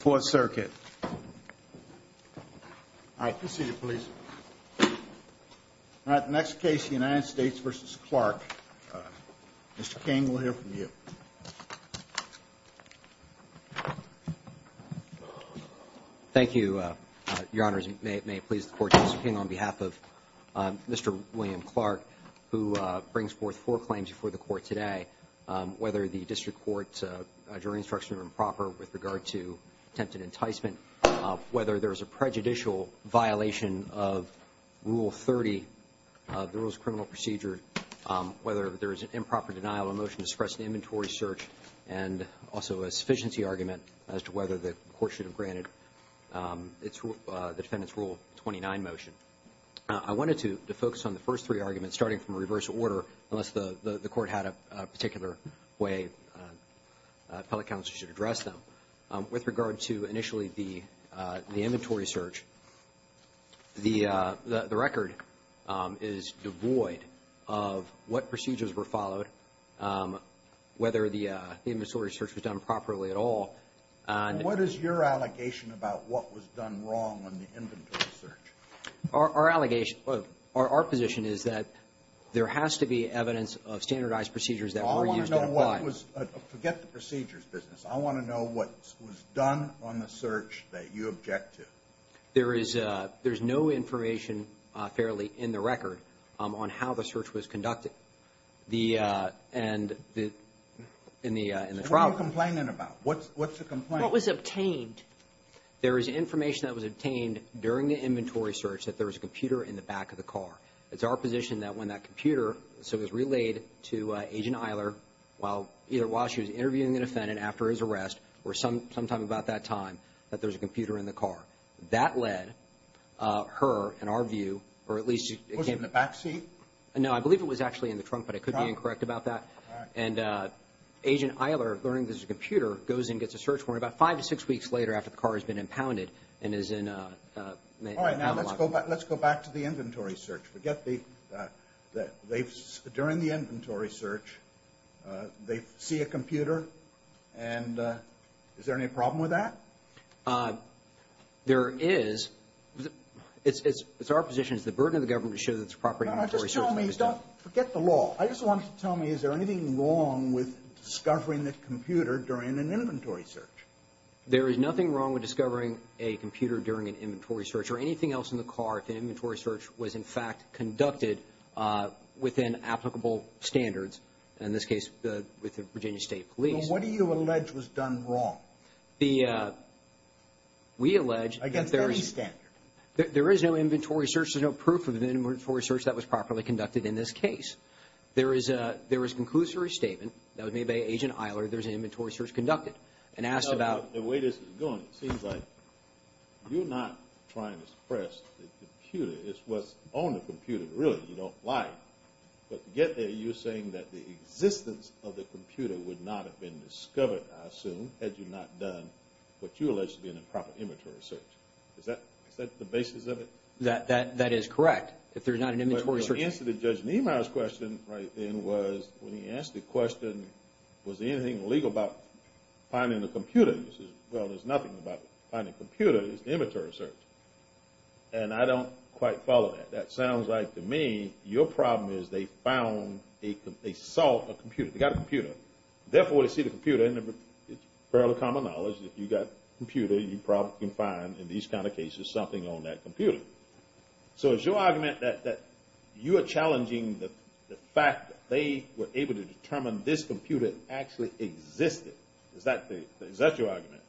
for circuit. I proceeded police. All right, next case, United States versus Clark. Mr King will hear from you. Thank you. Your Honor's may it may please the court, Mr King on behalf of Mr. William Clarke, who brings forth for claims before the court today, whether the district court jury instruction improper with regard to attempted enticement, whether there's a prejudicial violation of rule 30, the rules criminal procedure, whether there is an improper denial of motion to suppress the inventory search and also a sufficiency argument as to whether the court should have granted. It's the defendants rule 29 motion. I wanted to focus on the first three arguments starting from a reverse order unless the the court had a particular way. Public counsel should address them with regard to initially the inventory search. The record is devoid of what procedures were followed, whether the inventory search was done properly at all. What is your allegation about what was done wrong on the inventory search? Our allegation of our position is that there has to be evidence of standardized procedures that were used. I want to know what was forget the procedures business. I want to know what was done on the search that you object to. There is a there's no information fairly in the record on how the search was conducted the and the in the in the trial complaining about what's what's the complaint was obtained. There is information that was obtained during the inventory search that there was a computer in the back of the car. It's our position that when that computer so it was relayed to agent Eiler while either while she was interviewing the defendant after his arrest or some sometime about that time that there's a computer in the car that led her and our view or at least it was in the backseat. No, I believe it was actually in the trunk, but it could be incorrect about that and agent Eiler learning. This is a computer goes and gets a search warrant about five to six weeks later after the car has been impounded and is in. All right. Let's go back. Let's go back to the inventory search. Forget the that they've during the inventory search. They see a computer and is there any problem with that? There is it's it's our position is the burden of the government to show that it's property. I just don't forget the law. I just wanted to tell me is there anything wrong with discovering that computer during an inventory search? There is nothing wrong with discovering a computer during an inventory search or anything else in the car. If an inventory search was in fact conducted within applicable standards in this case with the Virginia State Police. What do you allege was done wrong? The we allege against any standard. There is no inventory search. There's no proof of inventory search that was properly conducted in this case. There is a there is conclusory statement that was made by agent Eiler. There's an inventory search conducted and asked about the way this is going. Seems like you're not trying to suppress the computer. It's what's on the computer. Really? You don't like but to get there. You're saying that the existence of the computer would not have been discovered. I assume had you not done what you alleged to be in a proper inventory search. Is that is that the basis of it? That that that is correct. If there's not an inventory search. Answer the judge Niemeyer's question right then was when he asked the question was anything legal about finding the computer? Well, there's nothing about finding computer is the inventory search. And I don't quite follow that. That sounds like to me. Your problem is they found a they saw a computer. They got a computer. Therefore, they see the computer and it's fairly common knowledge that you got computer. You probably can find in these kind of cases something on that computer. So it's your argument that you are challenging the fact that they were able to determine this computer actually existed. Is that the is that your argument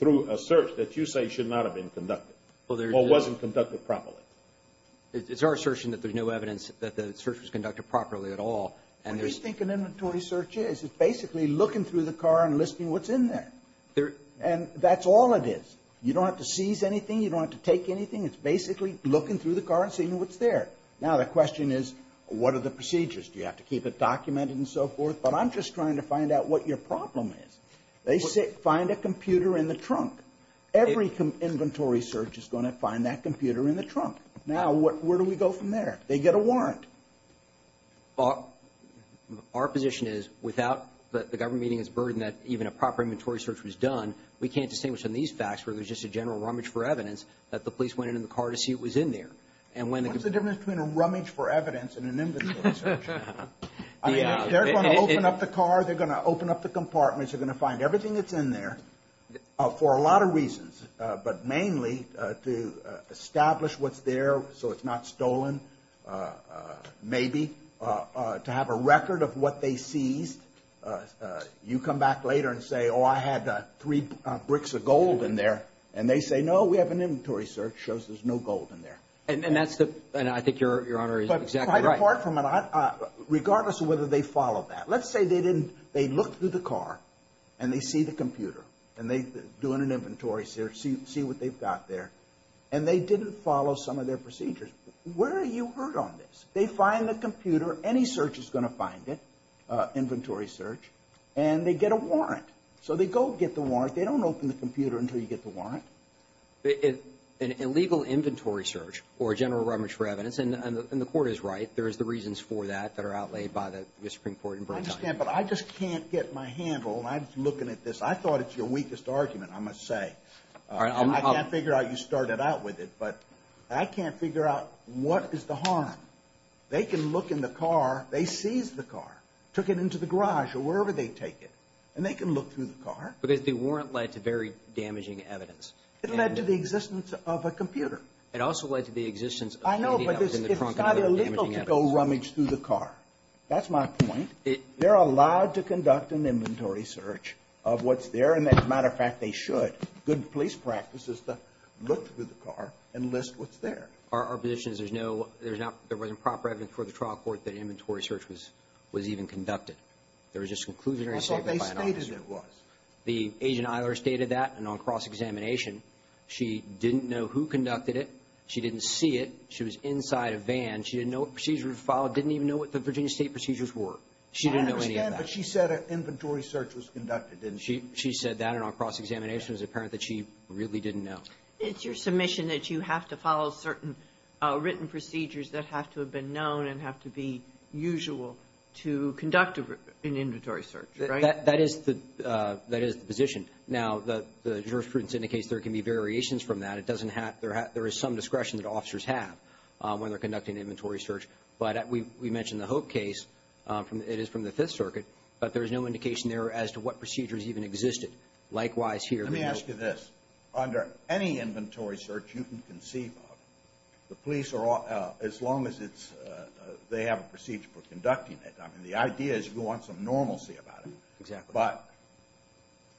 through a search that you say should not have been conducted? Well, there wasn't conducted properly. It's our assertion that there's no evidence that the search was conducted properly at all. And there's think an inventory search is it's basically looking through the car and listing what's in there there and that's all it is. You don't have to seize anything. You don't have to take anything. It's basically looking through the car and seeing what's there. Now the question is what are the procedures? Do you have to keep it documented and so forth, but I'm just trying to find out what your problem is. They say find a computer in the trunk. Every inventory search is going to find that computer in the trunk. Now, what where do we go from there? They get a warrant. Our position is without the government is burdened that even a proper inventory search was done. We can't distinguish on these facts where there's just a general rummage for evidence that the police went in the car to see what was in there. And when the difference between a rummage for evidence and an inventory search. They're going to open up the car. They're going to open up the compartments. They're going to find everything that's in there for a lot of reasons, but mainly to establish what's there. So it's not stolen. Maybe to have a record of what they seized. You come back later and say, oh, I had three bricks of gold in there and they say, no, we have an inventory search shows. There's no gold in there. And that's the and I think your Honor is exactly right. Apart from it, regardless of whether they follow that, let's say they didn't. They look through the car and they see the computer and they doing an inventory search. See what they've got there and they didn't follow some of their procedures. Where are you heard on this? They find the computer. Any search is going to find it inventory search and they get a warrant. So they go get the warrant. They don't open the computer until you get the warrant. An illegal inventory search or a general rummage for evidence. And the court is right. There is the reasons for that that are outlaid by the Supreme Court. I understand, but I just can't get my handle. I'm looking at this. I thought it's your weakest argument. I must say, I can't figure out you started out with it, but I can't figure out what is the harm they can look in the car. They seized the car, took it into the garage or wherever they take it and they can look through the car because they weren't led to very damaging evidence. It led to the existence of a computer. It also led to the existence. I know, but it's not illegal to go rummage through the car. That's my point. They're allowed to conduct an inventory search of what's there. And as a matter of fact, they should. Good police practice is to look through the car and list what's there. Our position is there's no, there's not, there wasn't proper evidence for the trial court that inventory search was, was even conducted. There was just conclusionary statement by an officer. That's what they stated it was. The agent Eilers stated that and on cross-examination, she didn't know who conducted it. She didn't see it. She was inside a van. She didn't know what procedures were followed. Didn't even know what the Virginia State procedures were. She didn't know any of that. But she said an inventory search was conducted, didn't she? She said that and on cross-examination, it was apparent that she really didn't know. It's your submission that you have to follow certain written procedures that have to have been known and have to be usual to conduct an inventory search, right? That is the, that is the position. Now, the jurisprudence indicates there can be variations from that. It doesn't have, there is some discretion that officers have when they're conducting inventory search. But we mentioned the Hope case from, it is from the Fifth Circuit, but there's no indication there as to what procedures even existed. Likewise here. Let me ask you this, under any inventory search you can conceive of, the police are all, as long as it's, they have a procedure for conducting it. I mean, the idea is you want some normalcy about it. Exactly. But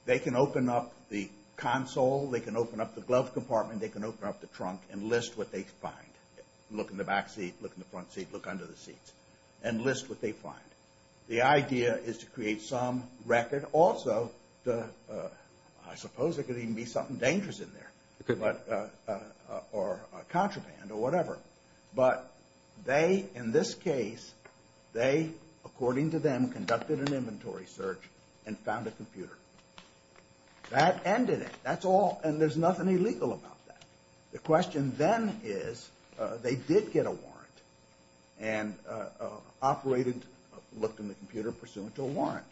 they can open up the console. They can open up the glove compartment. They can open up the trunk and list what they find. Look in the back seat. Look in the front seat. Look under the seats and list what they find. The idea is to create some record. Also, I suppose it could even be something dangerous in there or a contraband or whatever. But they, in this case, they, according to them, conducted an inventory search and found a computer. That ended it. That's all. And there's nothing illegal about that. The question then is they did get a warrant and operated, looked in the computer, pursuant to a warrant.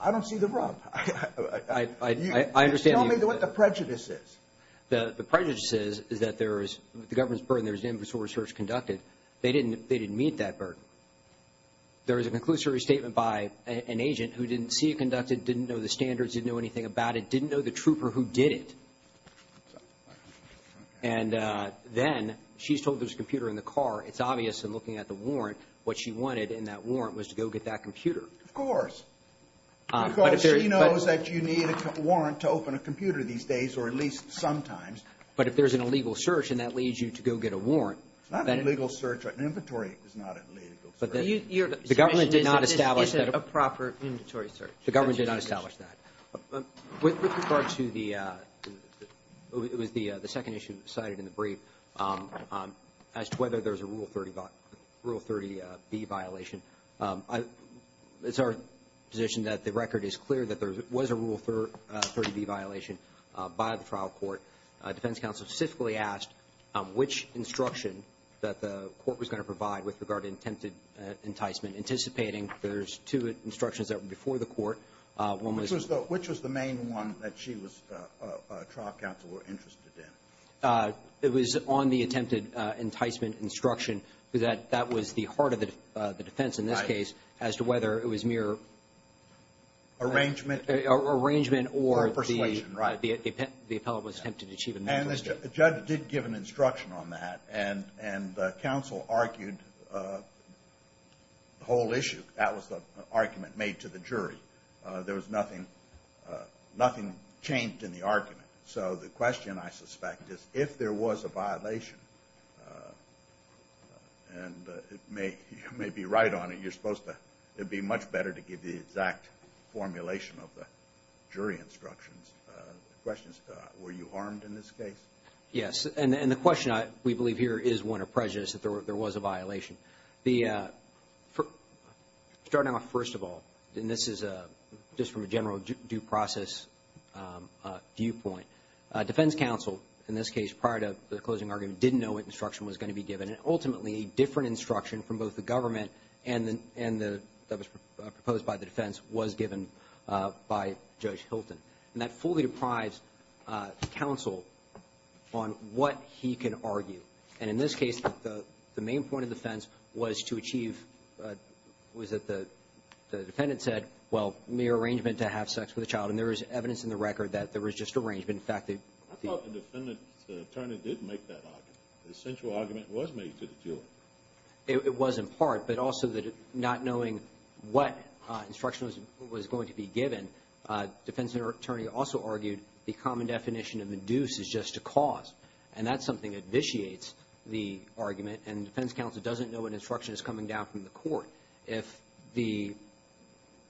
I don't see the rub. I understand. Tell me what the prejudice is. The prejudice is that there is, the government's burden, there's an inventory search conducted. They didn't meet that burden. There is a conclusory statement by an agent who didn't see it conducted, didn't know the standards, didn't know anything about it, didn't know the trooper who did it. And then she's told there's a computer in the car. It's obvious in looking at the warrant, what she wanted in that warrant was to go get that computer. Of course. Because she knows that you need a warrant to open a computer these days, or at least sometimes. But if there's an illegal search and that leads you to go get a warrant. It's not an illegal search. An inventory is not an illegal search. But the government did not establish that. Is it a proper inventory search? The government did not establish that. With regard to the, it was the second issue cited in the brief, as to whether there's a Rule 30B violation. It's our position that the record is clear that there was a Rule 30B violation by the trial court. Defense counsel specifically asked which instruction that the court was going to provide with regard to attempted enticement, anticipating there's two instructions that were before the court. Which was the main one that she was, trial counsel were interested in? It was on the attempted enticement instruction, because that was the heart of the defense in this case, as to whether it was mere. Arrangement. Arrangement or the. Persuasion, right. The appellate was attempted to achieve. And the judge did give an instruction on that. And counsel argued the whole issue. That was the argument made to the jury. There was nothing, nothing changed in the argument. So the question, I suspect, is if there was a violation. And it may, you may be right on it. You're supposed to, it'd be much better to give the exact formulation of the jury instructions. The question is, were you harmed in this case? Yes, and the question I, we believe here is one of prejudice that there was a violation. The, starting off first of all, and this is just from a general due process viewpoint, defense counsel, in this case, prior to the closing argument, didn't know what instruction was going to be given. And ultimately, a different instruction from both the government and the, and the, that was proposed by the defense was given by Judge Hilton. And that fully deprives counsel on what he can argue. And in this case, the, the main point of defense was to achieve, was that the, the defendant said, well, mere arrangement to have sex with a child. And there is evidence in the record that there was just arrangement. In fact, the. I thought the defendant's attorney did make that argument. The central argument was made to the jury. It was in part, but also that not knowing what instruction was, was going to be given, defense attorney also argued the common definition of the deuce is just a cause. And that's something that vitiates the argument. And defense counsel doesn't know what instruction is coming down from the court. If the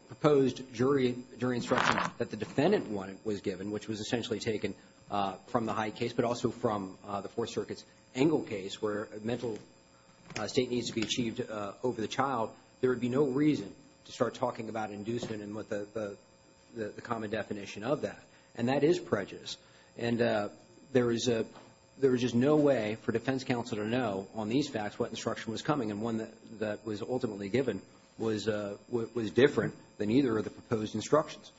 proposed jury, jury instruction that the defendant wanted was given, which was essentially taken from the Hyde case, but also from the Fourth Circuit's Engle case, where a mental state needs to be achieved over the child, there would be no reason to start talking about inducement and what the, the, the common definition of that. And that is prejudice. And there is a, there is just no way for defense counsel to know on these facts what instruction was coming. And one that, that was ultimately given was, was different than either of the proposed instructions.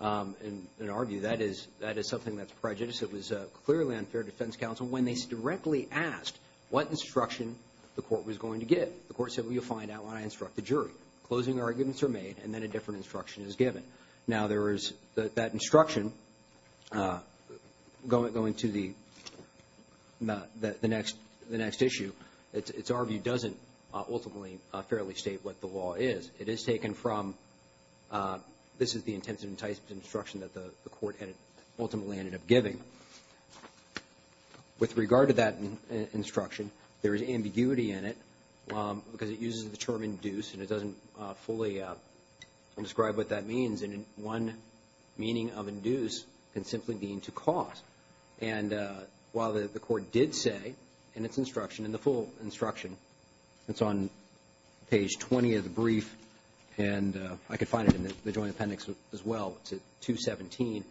And in our view, that is, that is something that's prejudice. It was clearly unfair to defense counsel when they directly asked what instruction the court was going to give. The court said, well, you'll find out when I instruct the jury. Closing arguments are made and then a different instruction is given. Now, there is that, that instruction going, going to the, the, the next, the next issue, it's, it's our view, doesn't ultimately fairly state what the law is. It is taken from, this is the intensive enticement instruction that the, the court had ultimately ended up giving. With regard to that instruction, there is ambiguity in it because it uses the term induce and it doesn't fully describe what that means. And one meaning of induce can simply mean to cause. And while the court did say in its instruction, in the full instruction, it's on page 20 of the brief, and I could find it in the joint appendix as well, it's at 217,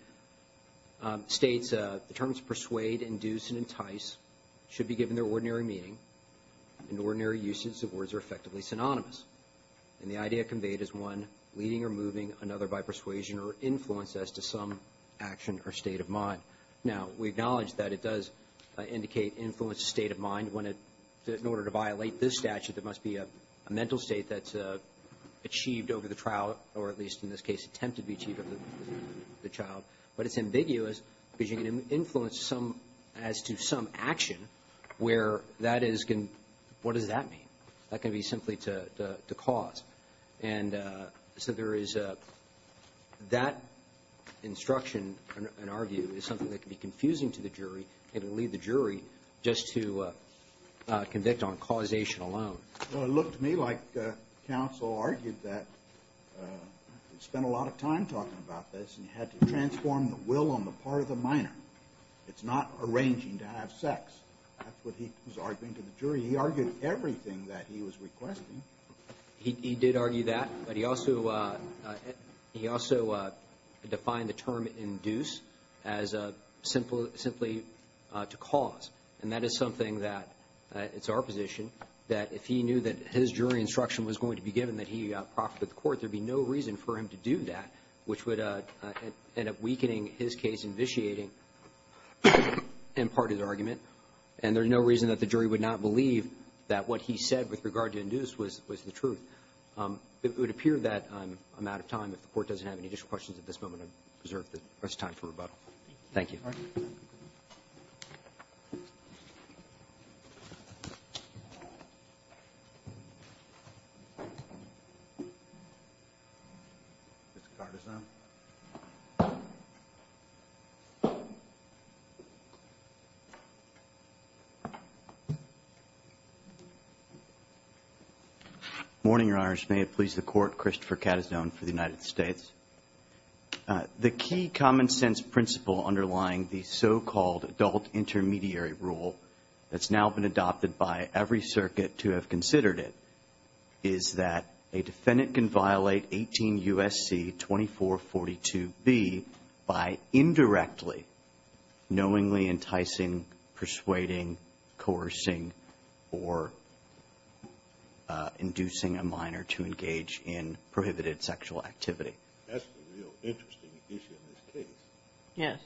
states the terms persuade, induce, and entice should be given their ordinary meaning, and ordinary uses of words are effectively synonymous. And the idea conveyed is one leading or moving another by persuasion or influence as to some action or state of mind. Now, we acknowledge that it does indicate influence of state of mind when it, in order to violate this statute, there must be a mental state that's achieved over the trial or at least in this case attempted to be achieved over the trial. But it's ambiguous because you can influence some, as to some action where that is going, what does that mean? That can be simply to, to cause. And so there is a, that instruction, in our view, is something that can be confusing to the jury and can lead the jury just to convict on causation alone. Well, it looked to me like counsel argued that, spent a lot of time talking about this, and had to transform the will on the part of the minor. It's not arranging to have sex. That's what he was arguing to the jury. He argued everything that he was requesting. He, he did argue that. But he also, he also defined the term induce as a simple, simply to cause. And that is something that, it's our position, that if he knew that his jury instruction was going to be given, that he proffered with the court, there would be no reason for him to do that, which would end up weakening his case, invitiating imparted argument. And there's no reason that the jury would not believe that what he said with regard to induce was, was the truth. It would appear that I'm out of time. If the Court doesn't have any additional questions at this moment, I reserve the rest of the time for rebuttal. Thank you. Mr. Carteson. Morning, Your Honors. May it please the Court, Christopher Carteson for the United States. The key common sense principle underlying the so-called adult intermediary rule that's now been adopted by every circuit to have considered it is that a defendant can violate 18 U.S.C. 2442B by indirectly knowingly enticing, persuading, coercing, or inducing a minor to engage in prohibited sexual activity. That's a real interesting issue in this case. Yes.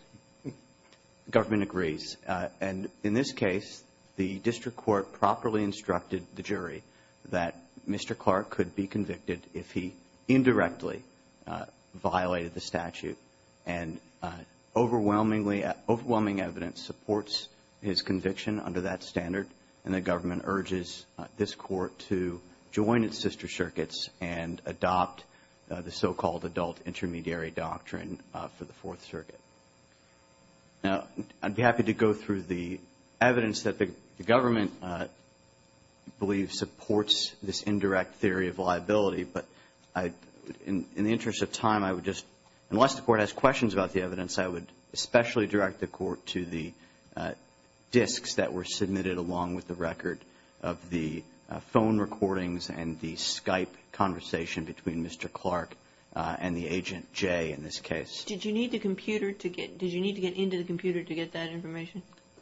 The government agrees. And in this case, the district court properly instructed the jury that Mr. Clark could be convicted if he indirectly violated the statute. And overwhelmingly, overwhelming evidence supports his conviction under that standard, and the government urges this Court to join its sister circuits and adopt the so-called adult intermediary doctrine for the Fourth Circuit. Now, I'd be happy to go through the evidence that the government believes supports this indirect theory of liability. But in the interest of time, I would just unless the Court has questions about the evidence, I would especially direct the Court to the disks that were submitted along with the record of the phone recordings and the Skype conversation between Mr. Clark and the agent, Jay, in this case. Did you need the computer to get did you need to get into the computer to get that information?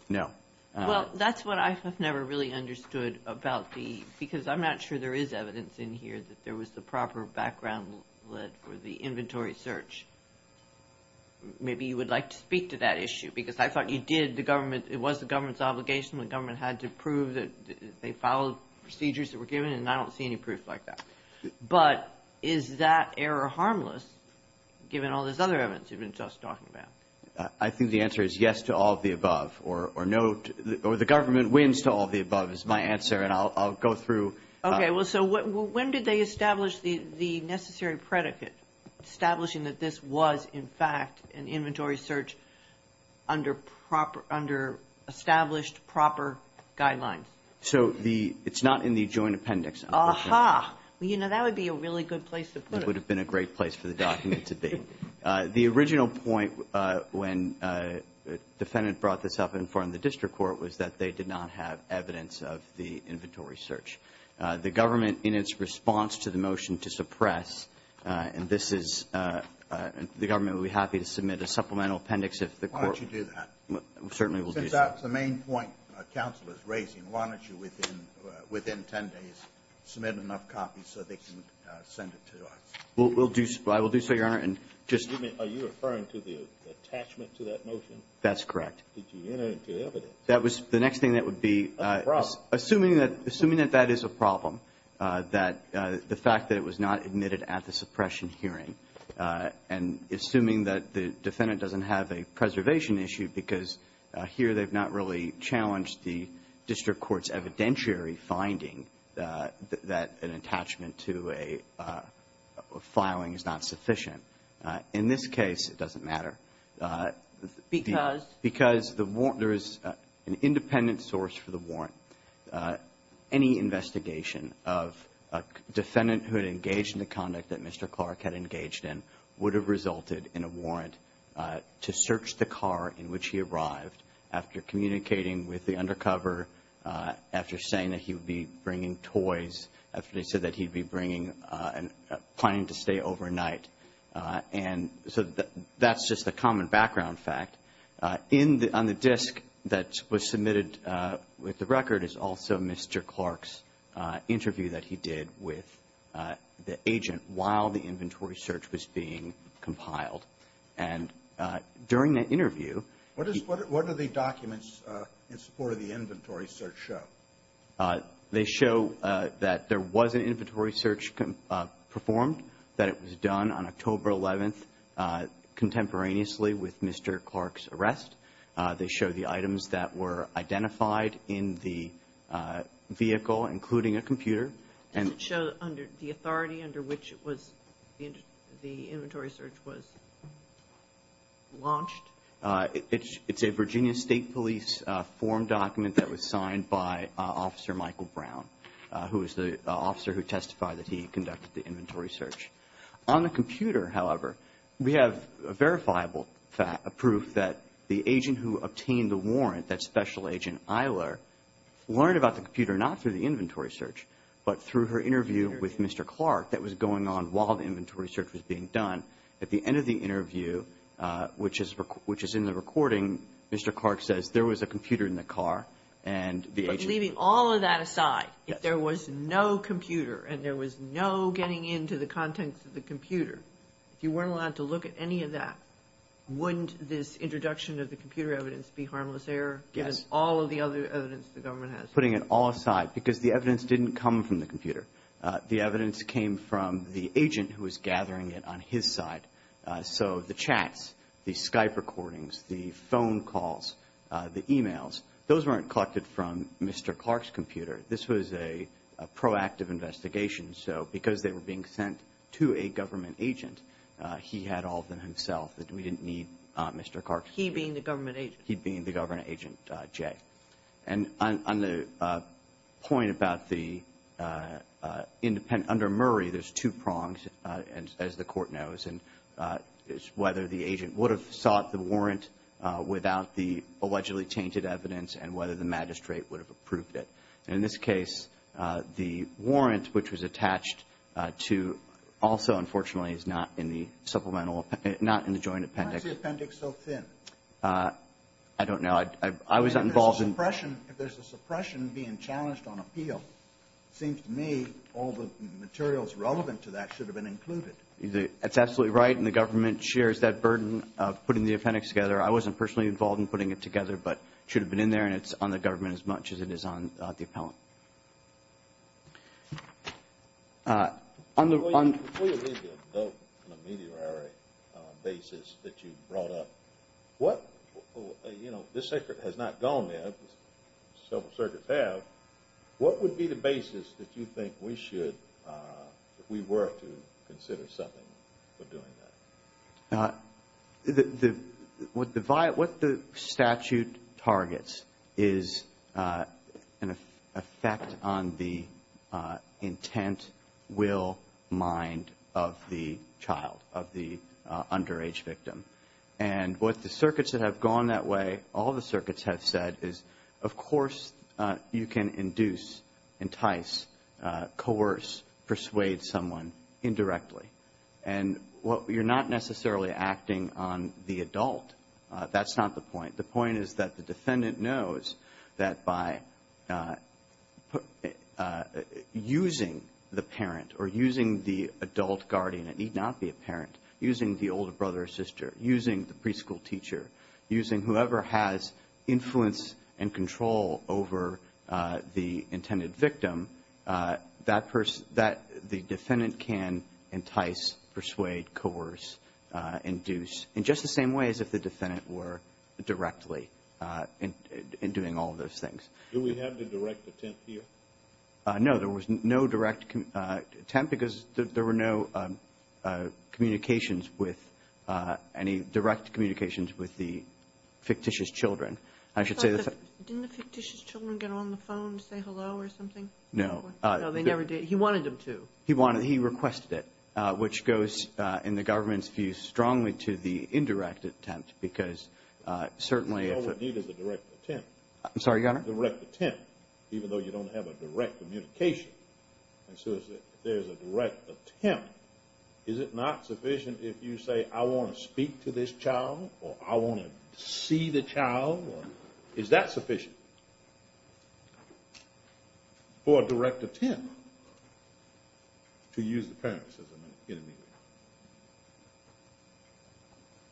No. Well, that's what I have never really understood about the because I'm not sure there is evidence in here that there was the proper background lead for the inventory search. Maybe you would like to speak to that issue because I thought you did. The government, it was the government's obligation. The government had to prove that they followed procedures that were given, and I don't see any proof like that. But is that error harmless given all this other evidence you've been just talking about? I think the answer is yes to all of the above, or no, or the government wins to all of the above is my answer, and I'll go through. Okay. Well, so when did they establish the necessary predicate establishing that this was, in fact, an inventory search under established proper guidelines? So it's not in the joint appendix. Aha. Well, you know, that would be a really good place to put it. It would have been a great place for the document to be. The original point when the defendant brought this up in front of the district court was that they did not have evidence of the inventory search. The government, in its response to the motion to suppress, and this is the government would be happy to submit a supplemental appendix if the court. Why don't you do that? Certainly we'll do that. Since that's the main point counsel is raising, why don't you within 10 days submit enough copies so they can send it to us? I will do so, Your Honor, and just. Are you referring to the attachment to that motion? That's correct. Did you enter into evidence? That was the next thing that would be. A problem. Assuming that that is a problem, that the fact that it was not admitted at the suppression hearing, and assuming that the defendant doesn't have a preservation issue because here they've not really challenged the district court's evidentiary finding that an attachment to a filing is not sufficient. In this case it doesn't matter. Because? Because there is an independent source for the warrant. Any investigation of a defendant who had engaged in the conduct that Mr. Clark had engaged in would have resulted in a warrant to search the car in which he arrived after communicating with the undercover, after saying that he would be bringing toys, after he said that he'd be planning to stay overnight. And so that's just a common background fact. On the disk that was submitted with the record is also Mr. Clark's interview that he did with the agent while the inventory search was being compiled. And during that interview he What are the documents in support of the inventory search show? They show that there was an inventory search performed, that it was done on October 11th contemporaneously with Mr. Clark's arrest. They show the items that were identified in the vehicle, including a computer. Does it show the authority under which the inventory search was launched? It's a Virginia State Police form document that was signed by Officer Michael Brown, who is the officer who testified that he conducted the inventory search. On the computer, however, we have verifiable proof that the agent who obtained the warrant, that Special Agent Eiler, learned about the computer not through the inventory search, but through her interview with Mr. Clark that was going on while the inventory search was being done. At the end of the interview, which is in the recording, Mr. Clark says, there was a computer in the car and the agent But leaving all of that aside, if there was no computer and there was no getting into the contents of the computer, if you weren't allowed to look at any of that, wouldn't this introduction of the computer evidence be harmless error, given all of the other evidence the government has? Putting it all aside, because the evidence didn't come from the computer. The evidence came from the agent who was gathering it on his side. So the chats, the Skype recordings, the phone calls, the e-mails, those weren't collected from Mr. Clark's computer. This was a proactive investigation. So because they were being sent to a government agent, he had all of them himself. We didn't need Mr. Clark's computer. He being the government agent, J. And on the point about the independent under Murray, there's two prongs, as the Court knows, and it's whether the agent would have sought the warrant without the allegedly tainted evidence and whether the magistrate would have approved it. And in this case, the warrant, which was attached to also, unfortunately, is not in the supplemental, not in the joint appendix. Why is the appendix so thin? I don't know. If there's a suppression being challenged on appeal, it seems to me all the materials relevant to that should have been included. That's absolutely right, and the government shares that burden of putting the appendix together. I wasn't personally involved in putting it together, but it should have been in there, and it's on the government as much as it is on the appellant. Before you leave the dope on a meteorary basis that you brought up, what, you know, this secret has not gone yet, several circuits have, what would be the basis that you think we should, if we were to consider something for doing that? What the statute targets is an effect on the intent, will, mind of the child, of the underage victim. And what the circuits that have gone that way, all the circuits have said, is of course you can induce, entice, coerce, persuade someone indirectly. And you're not necessarily acting on the adult. That's not the point. The point is that the defendant knows that by using the parent or using the adult guardian, it need not be a parent, using the older brother or sister, using the preschool teacher, using whoever has influence and control over the intended victim, that the defendant can entice, persuade, coerce, induce, in just the same way as if the defendant were directly in doing all of those things. Do we have the direct attempt here? No, there was no direct attempt because there were no communications with, any direct communications with the fictitious children. Didn't the fictitious children get on the phone to say hello or something? No. No, they never did. He wanted them to. He requested it, which goes, in the government's view, strongly to the indirect attempt because certainly if All we need is a direct attempt. I'm sorry, Your Honor? A direct attempt, even though you don't have a direct communication. And so if there's a direct attempt, is it not sufficient if you say, I want to speak to this child or I want to see the child? Is that sufficient for a direct attempt to use the parents as an enemy?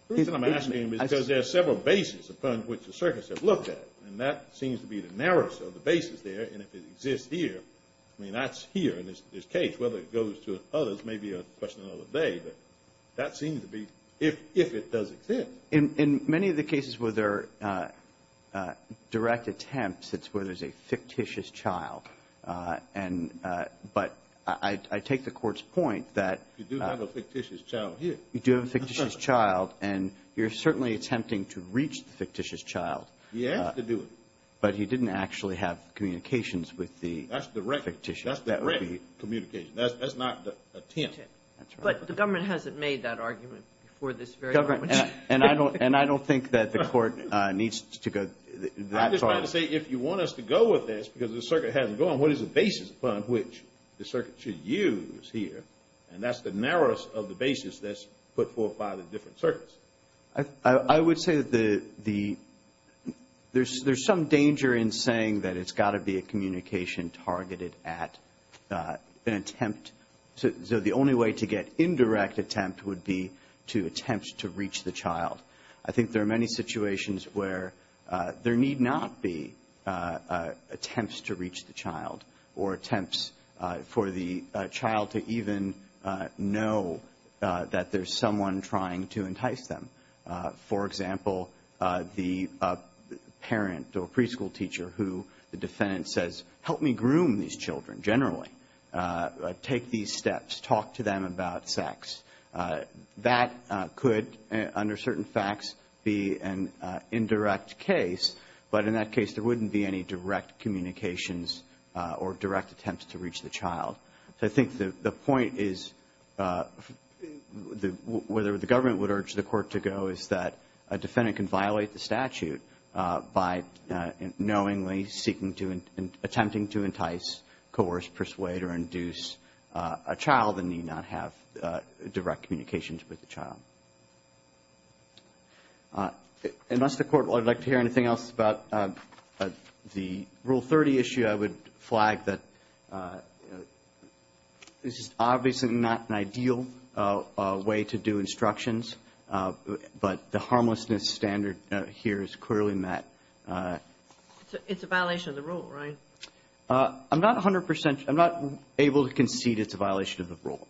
The reason I'm asking is because there are several bases upon which the circuits have looked at, and that seems to be the narrowest of the bases there. And if it exists here, I mean, that's here in this case. Whether it goes to others may be a question of the day, but that seems to be if it does exist. In many of the cases where there are direct attempts, it's where there's a fictitious child. And but I take the Court's point that You do have a fictitious child here. You do have a fictitious child, and you're certainly attempting to reach the fictitious child. He has to do it. But he didn't actually have communications with the fictitious child. That's direct communication. That's not an attempt. But the government hasn't made that argument before this very moment. And I don't think that the Court needs to go that far. I'm just trying to say if you want us to go with this because the circuit hasn't gone, what is the basis upon which the circuit should use here? And that's the narrowest of the bases that's put forth by the different circuits. I would say that there's some danger in saying that it's got to be a communication targeted at an attempt. So the only way to get indirect attempt would be to attempt to reach the child. I think there are many situations where there need not be attempts to reach the child or attempts for the child to even know that there's someone trying to entice them. For example, the parent or preschool teacher who the defendant says, Help me groom these children, generally. Take these steps. Talk to them about sex. That could, under certain facts, be an indirect case. But in that case, there wouldn't be any direct communications or direct attempts to reach the child. So I think the point is, whether the government would urge the Court to go, is that a defendant can violate the statute by knowingly seeking to and attempting to entice, coerce, persuade, or induce a child and need not have direct communications with the child. Unless the Court would like to hear anything else about the Rule 30 issue, I would flag that this is obviously not an ideal way to do instructions, but the harmlessness standard here is clearly met. It's a violation of the Rule, right? I'm not able to concede it's a violation of the Rule.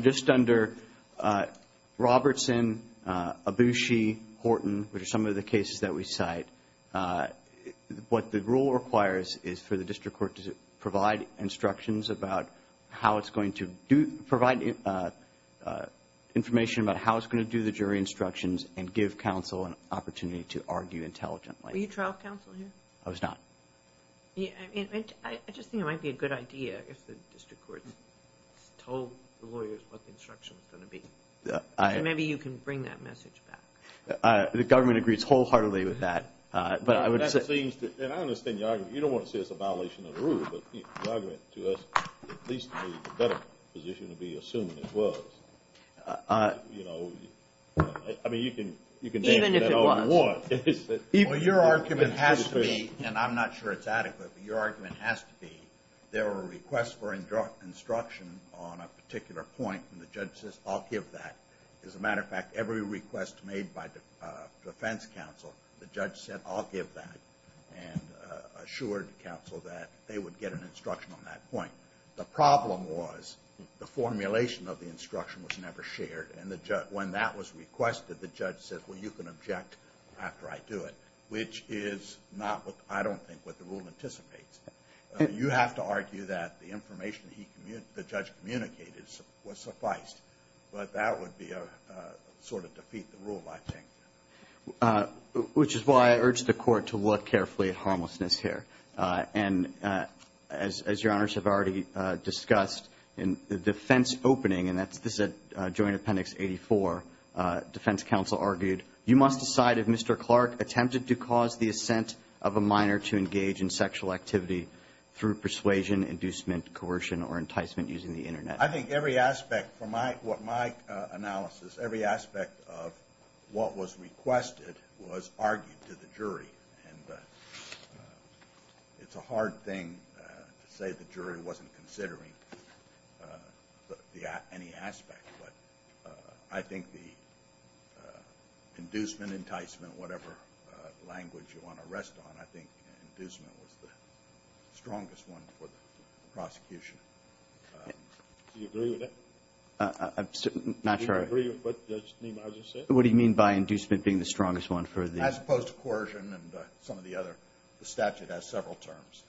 Just under Robertson, Abushi, Horton, which are some of the cases that we cite, what the Rule requires is for the district court to provide instructions about how it's going to do, provide information about how it's going to do the jury instructions and give counsel an opportunity to argue intelligently. Were you trial counsel here? I was not. I just think it might be a good idea if the district court told the lawyers what the instruction was going to be. Maybe you can bring that message back. The government agrees wholeheartedly with that. I understand your argument. You don't want to say it's a violation of the Rule, but your argument to us is at least a better position to be assuming it was. I mean, you can name whatever you want. Even if it was. Your argument has to be, and I'm not sure it's adequate, but your argument has to be there were requests for instruction on a particular point, and the judge says, I'll give that. As a matter of fact, every request made by defense counsel, the judge said, I'll give that, and assured counsel that they would get an instruction on that point. The problem was the formulation of the instruction was never shared, and when that was requested, the judge said, well, you can object after I do it, which is not what I don't think what the Rule anticipates. You have to argue that the information the judge communicated was sufficed, but that would be a sort of defeat of the Rule, I think. Which is why I urge the Court to look carefully at harmlessness here. And as Your Honors have already discussed, in the defense opening, and this is at Joint Appendix 84, defense counsel argued, you must decide if Mr. Clark attempted to cause the assent of a minor to engage in sexual activity through persuasion, inducement, coercion, or enticement using the Internet. I think every aspect from my analysis, every aspect of what was requested was argued to the jury. And it's a hard thing to say the jury wasn't considering any aspect, but I think the inducement, enticement, whatever language you want to rest on, I think inducement was the strongest one for the prosecution. Do you agree with that? I'm not sure. Do you agree with what Judge Nemar just said? What do you mean by inducement being the strongest one for the? As opposed to coercion and some of the other. The statute has several terms.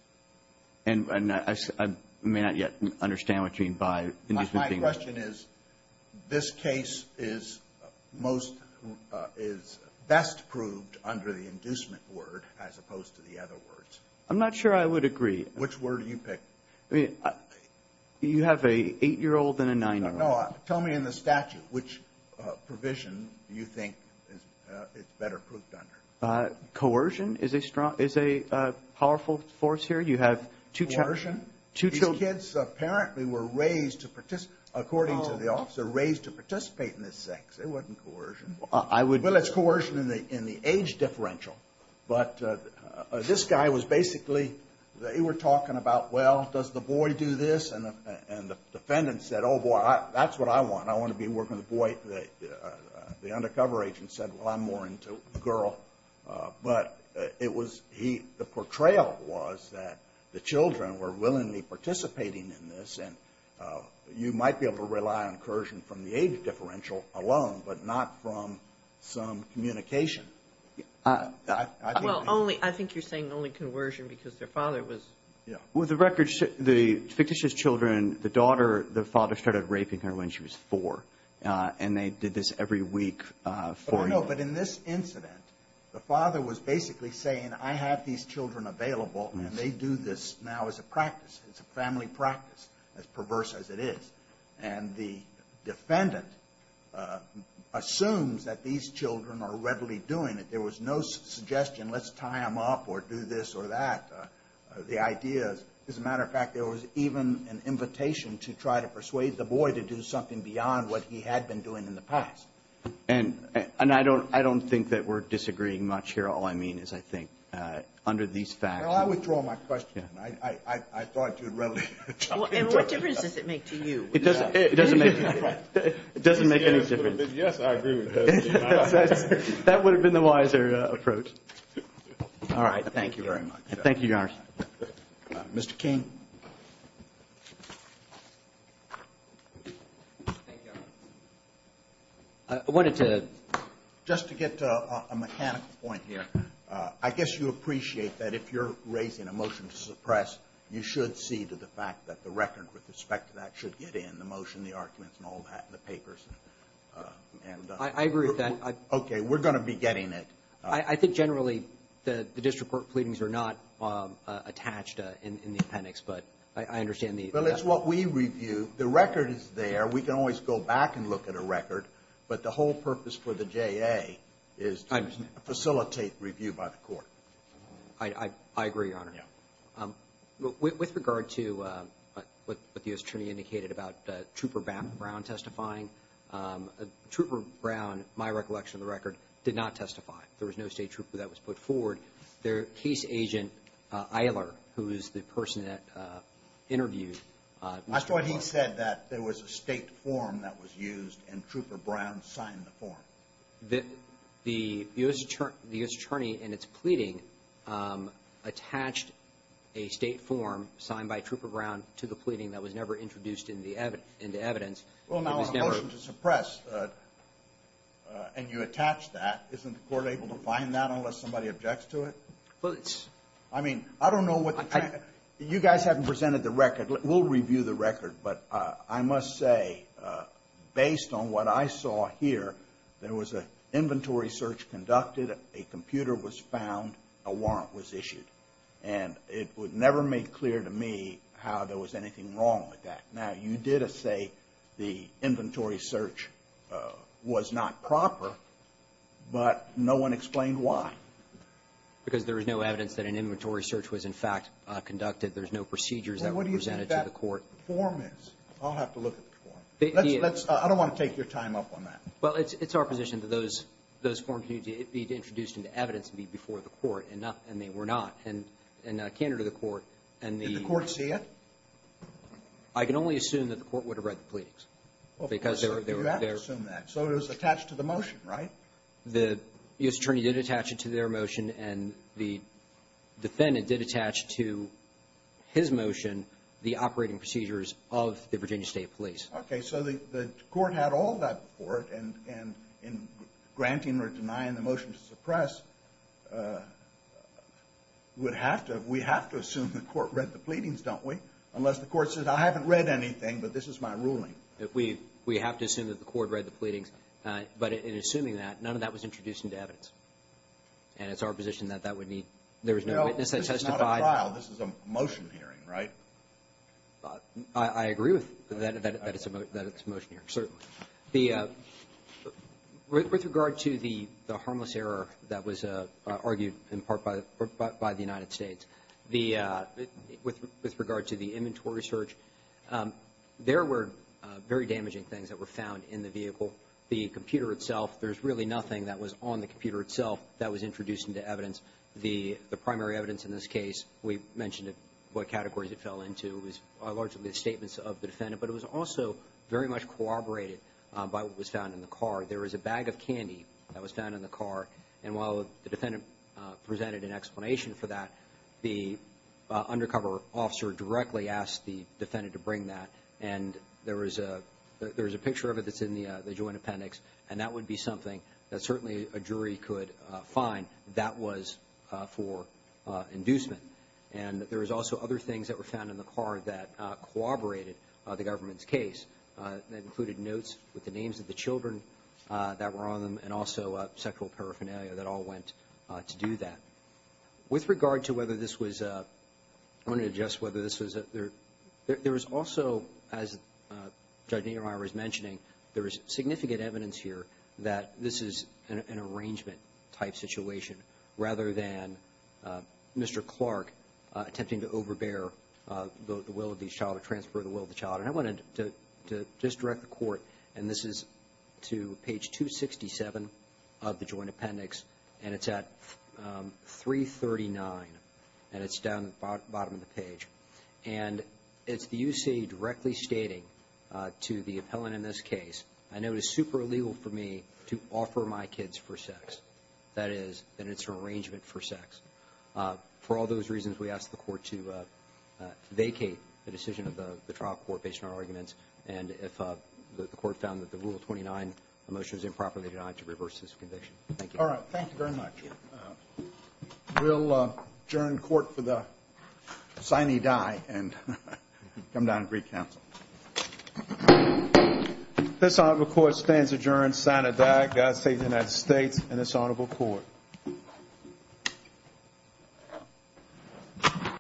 And I may not yet understand what you mean by inducement being. This case is most, is best proved under the inducement word as opposed to the other words. I'm not sure I would agree. Which word do you pick? You have an 8-year-old and a 9-year-old. No, tell me in the statute, which provision do you think it's better proved under? Coercion is a powerful force here. You have two children. Coercion? These kids apparently were raised to participate, according to the officer, raised to participate in this sex. It wasn't coercion. Well, it's coercion in the age differential. But this guy was basically, they were talking about, well, does the boy do this? And the defendant said, oh, boy, that's what I want. I want to be working with the boy. The undercover agent said, well, I'm more into the girl. But it was he, the portrayal was that the children were willingly participating in this, and you might be able to rely on coercion from the age differential alone, but not from some communication. Well, only, I think you're saying only coercion because their father was. With the record, the fictitious children, the daughter, the father started raping her when she was 4, and they did this every week for him. No, no, but in this incident, the father was basically saying, I have these children available, and they do this now as a practice. It's a family practice, as perverse as it is. And the defendant assumes that these children are readily doing it. There was no suggestion, let's tie them up or do this or that. The idea is, as a matter of fact, there was even an invitation to try to persuade the boy to do something beyond what he had been doing in the past. And I don't think that we're disagreeing much here. All I mean is, I think, under these facts. Well, I withdraw my question. I thought you'd rather. What difference does it make to you? It doesn't make any difference. Yes, I agree with him. That would have been the wiser approach. All right. Thank you very much. Thank you, Your Honor. Mr. King. Thank you, Your Honor. I wanted to. Just to get a mechanical point here. I guess you appreciate that if you're raising a motion to suppress, you should see to the fact that the record with respect to that should get in, the motion, the arguments, and all that, and the papers. I agree with that. Okay. We're going to be getting it. I think generally the district court pleadings are not attached in the appendix, but I understand the. Well, it's what we review. The record is there. We can always go back and look at a record, but the whole purpose for the JA is to facilitate review by the court. I agree, Your Honor. With regard to what the attorney indicated about Trooper Brown testifying, Trooper Brown, my recollection of the record, did not testify. There was no state trooper that was put forward. Case agent Eiler, who is the person that interviewed. That's what he said, that there was a state form that was used, and Trooper Brown signed the form. The U.S. attorney in its pleading attached a state form signed by Trooper Brown to the pleading that was never introduced into evidence. Well, now, in order to suppress and you attach that, isn't the court able to find that unless somebody objects to it? Well, it's. I mean, I don't know what the. You guys haven't presented the record. We'll review the record, but I must say, based on what I saw here, there was an inventory search conducted, a computer was found, a warrant was issued, and it would never make clear to me how there was anything wrong with that. Now, you did say the inventory search was not proper, but no one explained why. Because there was no evidence that an inventory search was, in fact, conducted. There's no procedures that were presented to the court. Well, what do you think that form is? I'll have to look at the form. Let's. I don't want to take your time up on that. Well, it's our position that those forms need to be introduced into evidence and be before the court, and they were not. And a candidate of the court and the. Did the court see it? I can only assume that the court would have read the pleadings. Well, you have to assume that. So it was attached to the motion, right? The U.S. Attorney did attach it to their motion, and the defendant did attach to his motion the operating procedures of the Virginia State Police. Okay, so the court had all that before it, and in granting or denying the motion to suppress, we have to assume the court read the pleadings, don't we? Unless the court says, I haven't read anything, but this is my ruling. We have to assume that the court read the pleadings. But in assuming that, none of that was introduced into evidence. And it's our position that that would need. There was no witness that testified. No, this is not a trial. This is a motion hearing, right? I agree with that it's a motion hearing, certainly. With regard to the harmless error that was argued in part by the United States, with regard to the inventory search, there were very damaging things that were found in the vehicle. The computer itself, there's really nothing that was on the computer itself that was introduced into evidence. The primary evidence in this case, we mentioned what categories it fell into. It was largely the statements of the defendant, but it was also very much corroborated by what was found in the car. There was a bag of candy that was found in the car, and while the defendant presented an explanation for that, the undercover officer directly asked the defendant to bring that. And there was a picture of it that's in the joint appendix, and that would be something that certainly a jury could find that was for inducement. And there was also other things that were found in the car that corroborated the government's case. That included notes with the names of the children that were on them and also sexual paraphernalia that all went to do that. With regard to whether this was a ‑‑ I want to adjust whether this was a ‑‑ there was also, as Judge Niemeyer was mentioning, there was significant evidence here that this is an arrangement-type situation rather than Mr. Clark attempting to overbear the will of the child or transfer the will of the child. And I wanted to just direct the court, and this is to page 267 of the joint appendix, and it's at 339, and it's down at the bottom of the page. And it's the U.C. directly stating to the appellant in this case, and it was super illegal for me to offer my kids for sex. That is, and it's an arrangement for sex. For all those reasons, we ask the court to vacate the decision of the trial court based on our arguments and if the court found that the Rule 29 motion is improperly denied to reverse this conviction. Thank you. All right. Thank you very much. We'll adjourn court for the sine die and come down and recounsel. This Honorable Court stands adjourned sine die. God save the United States and this Honorable Court.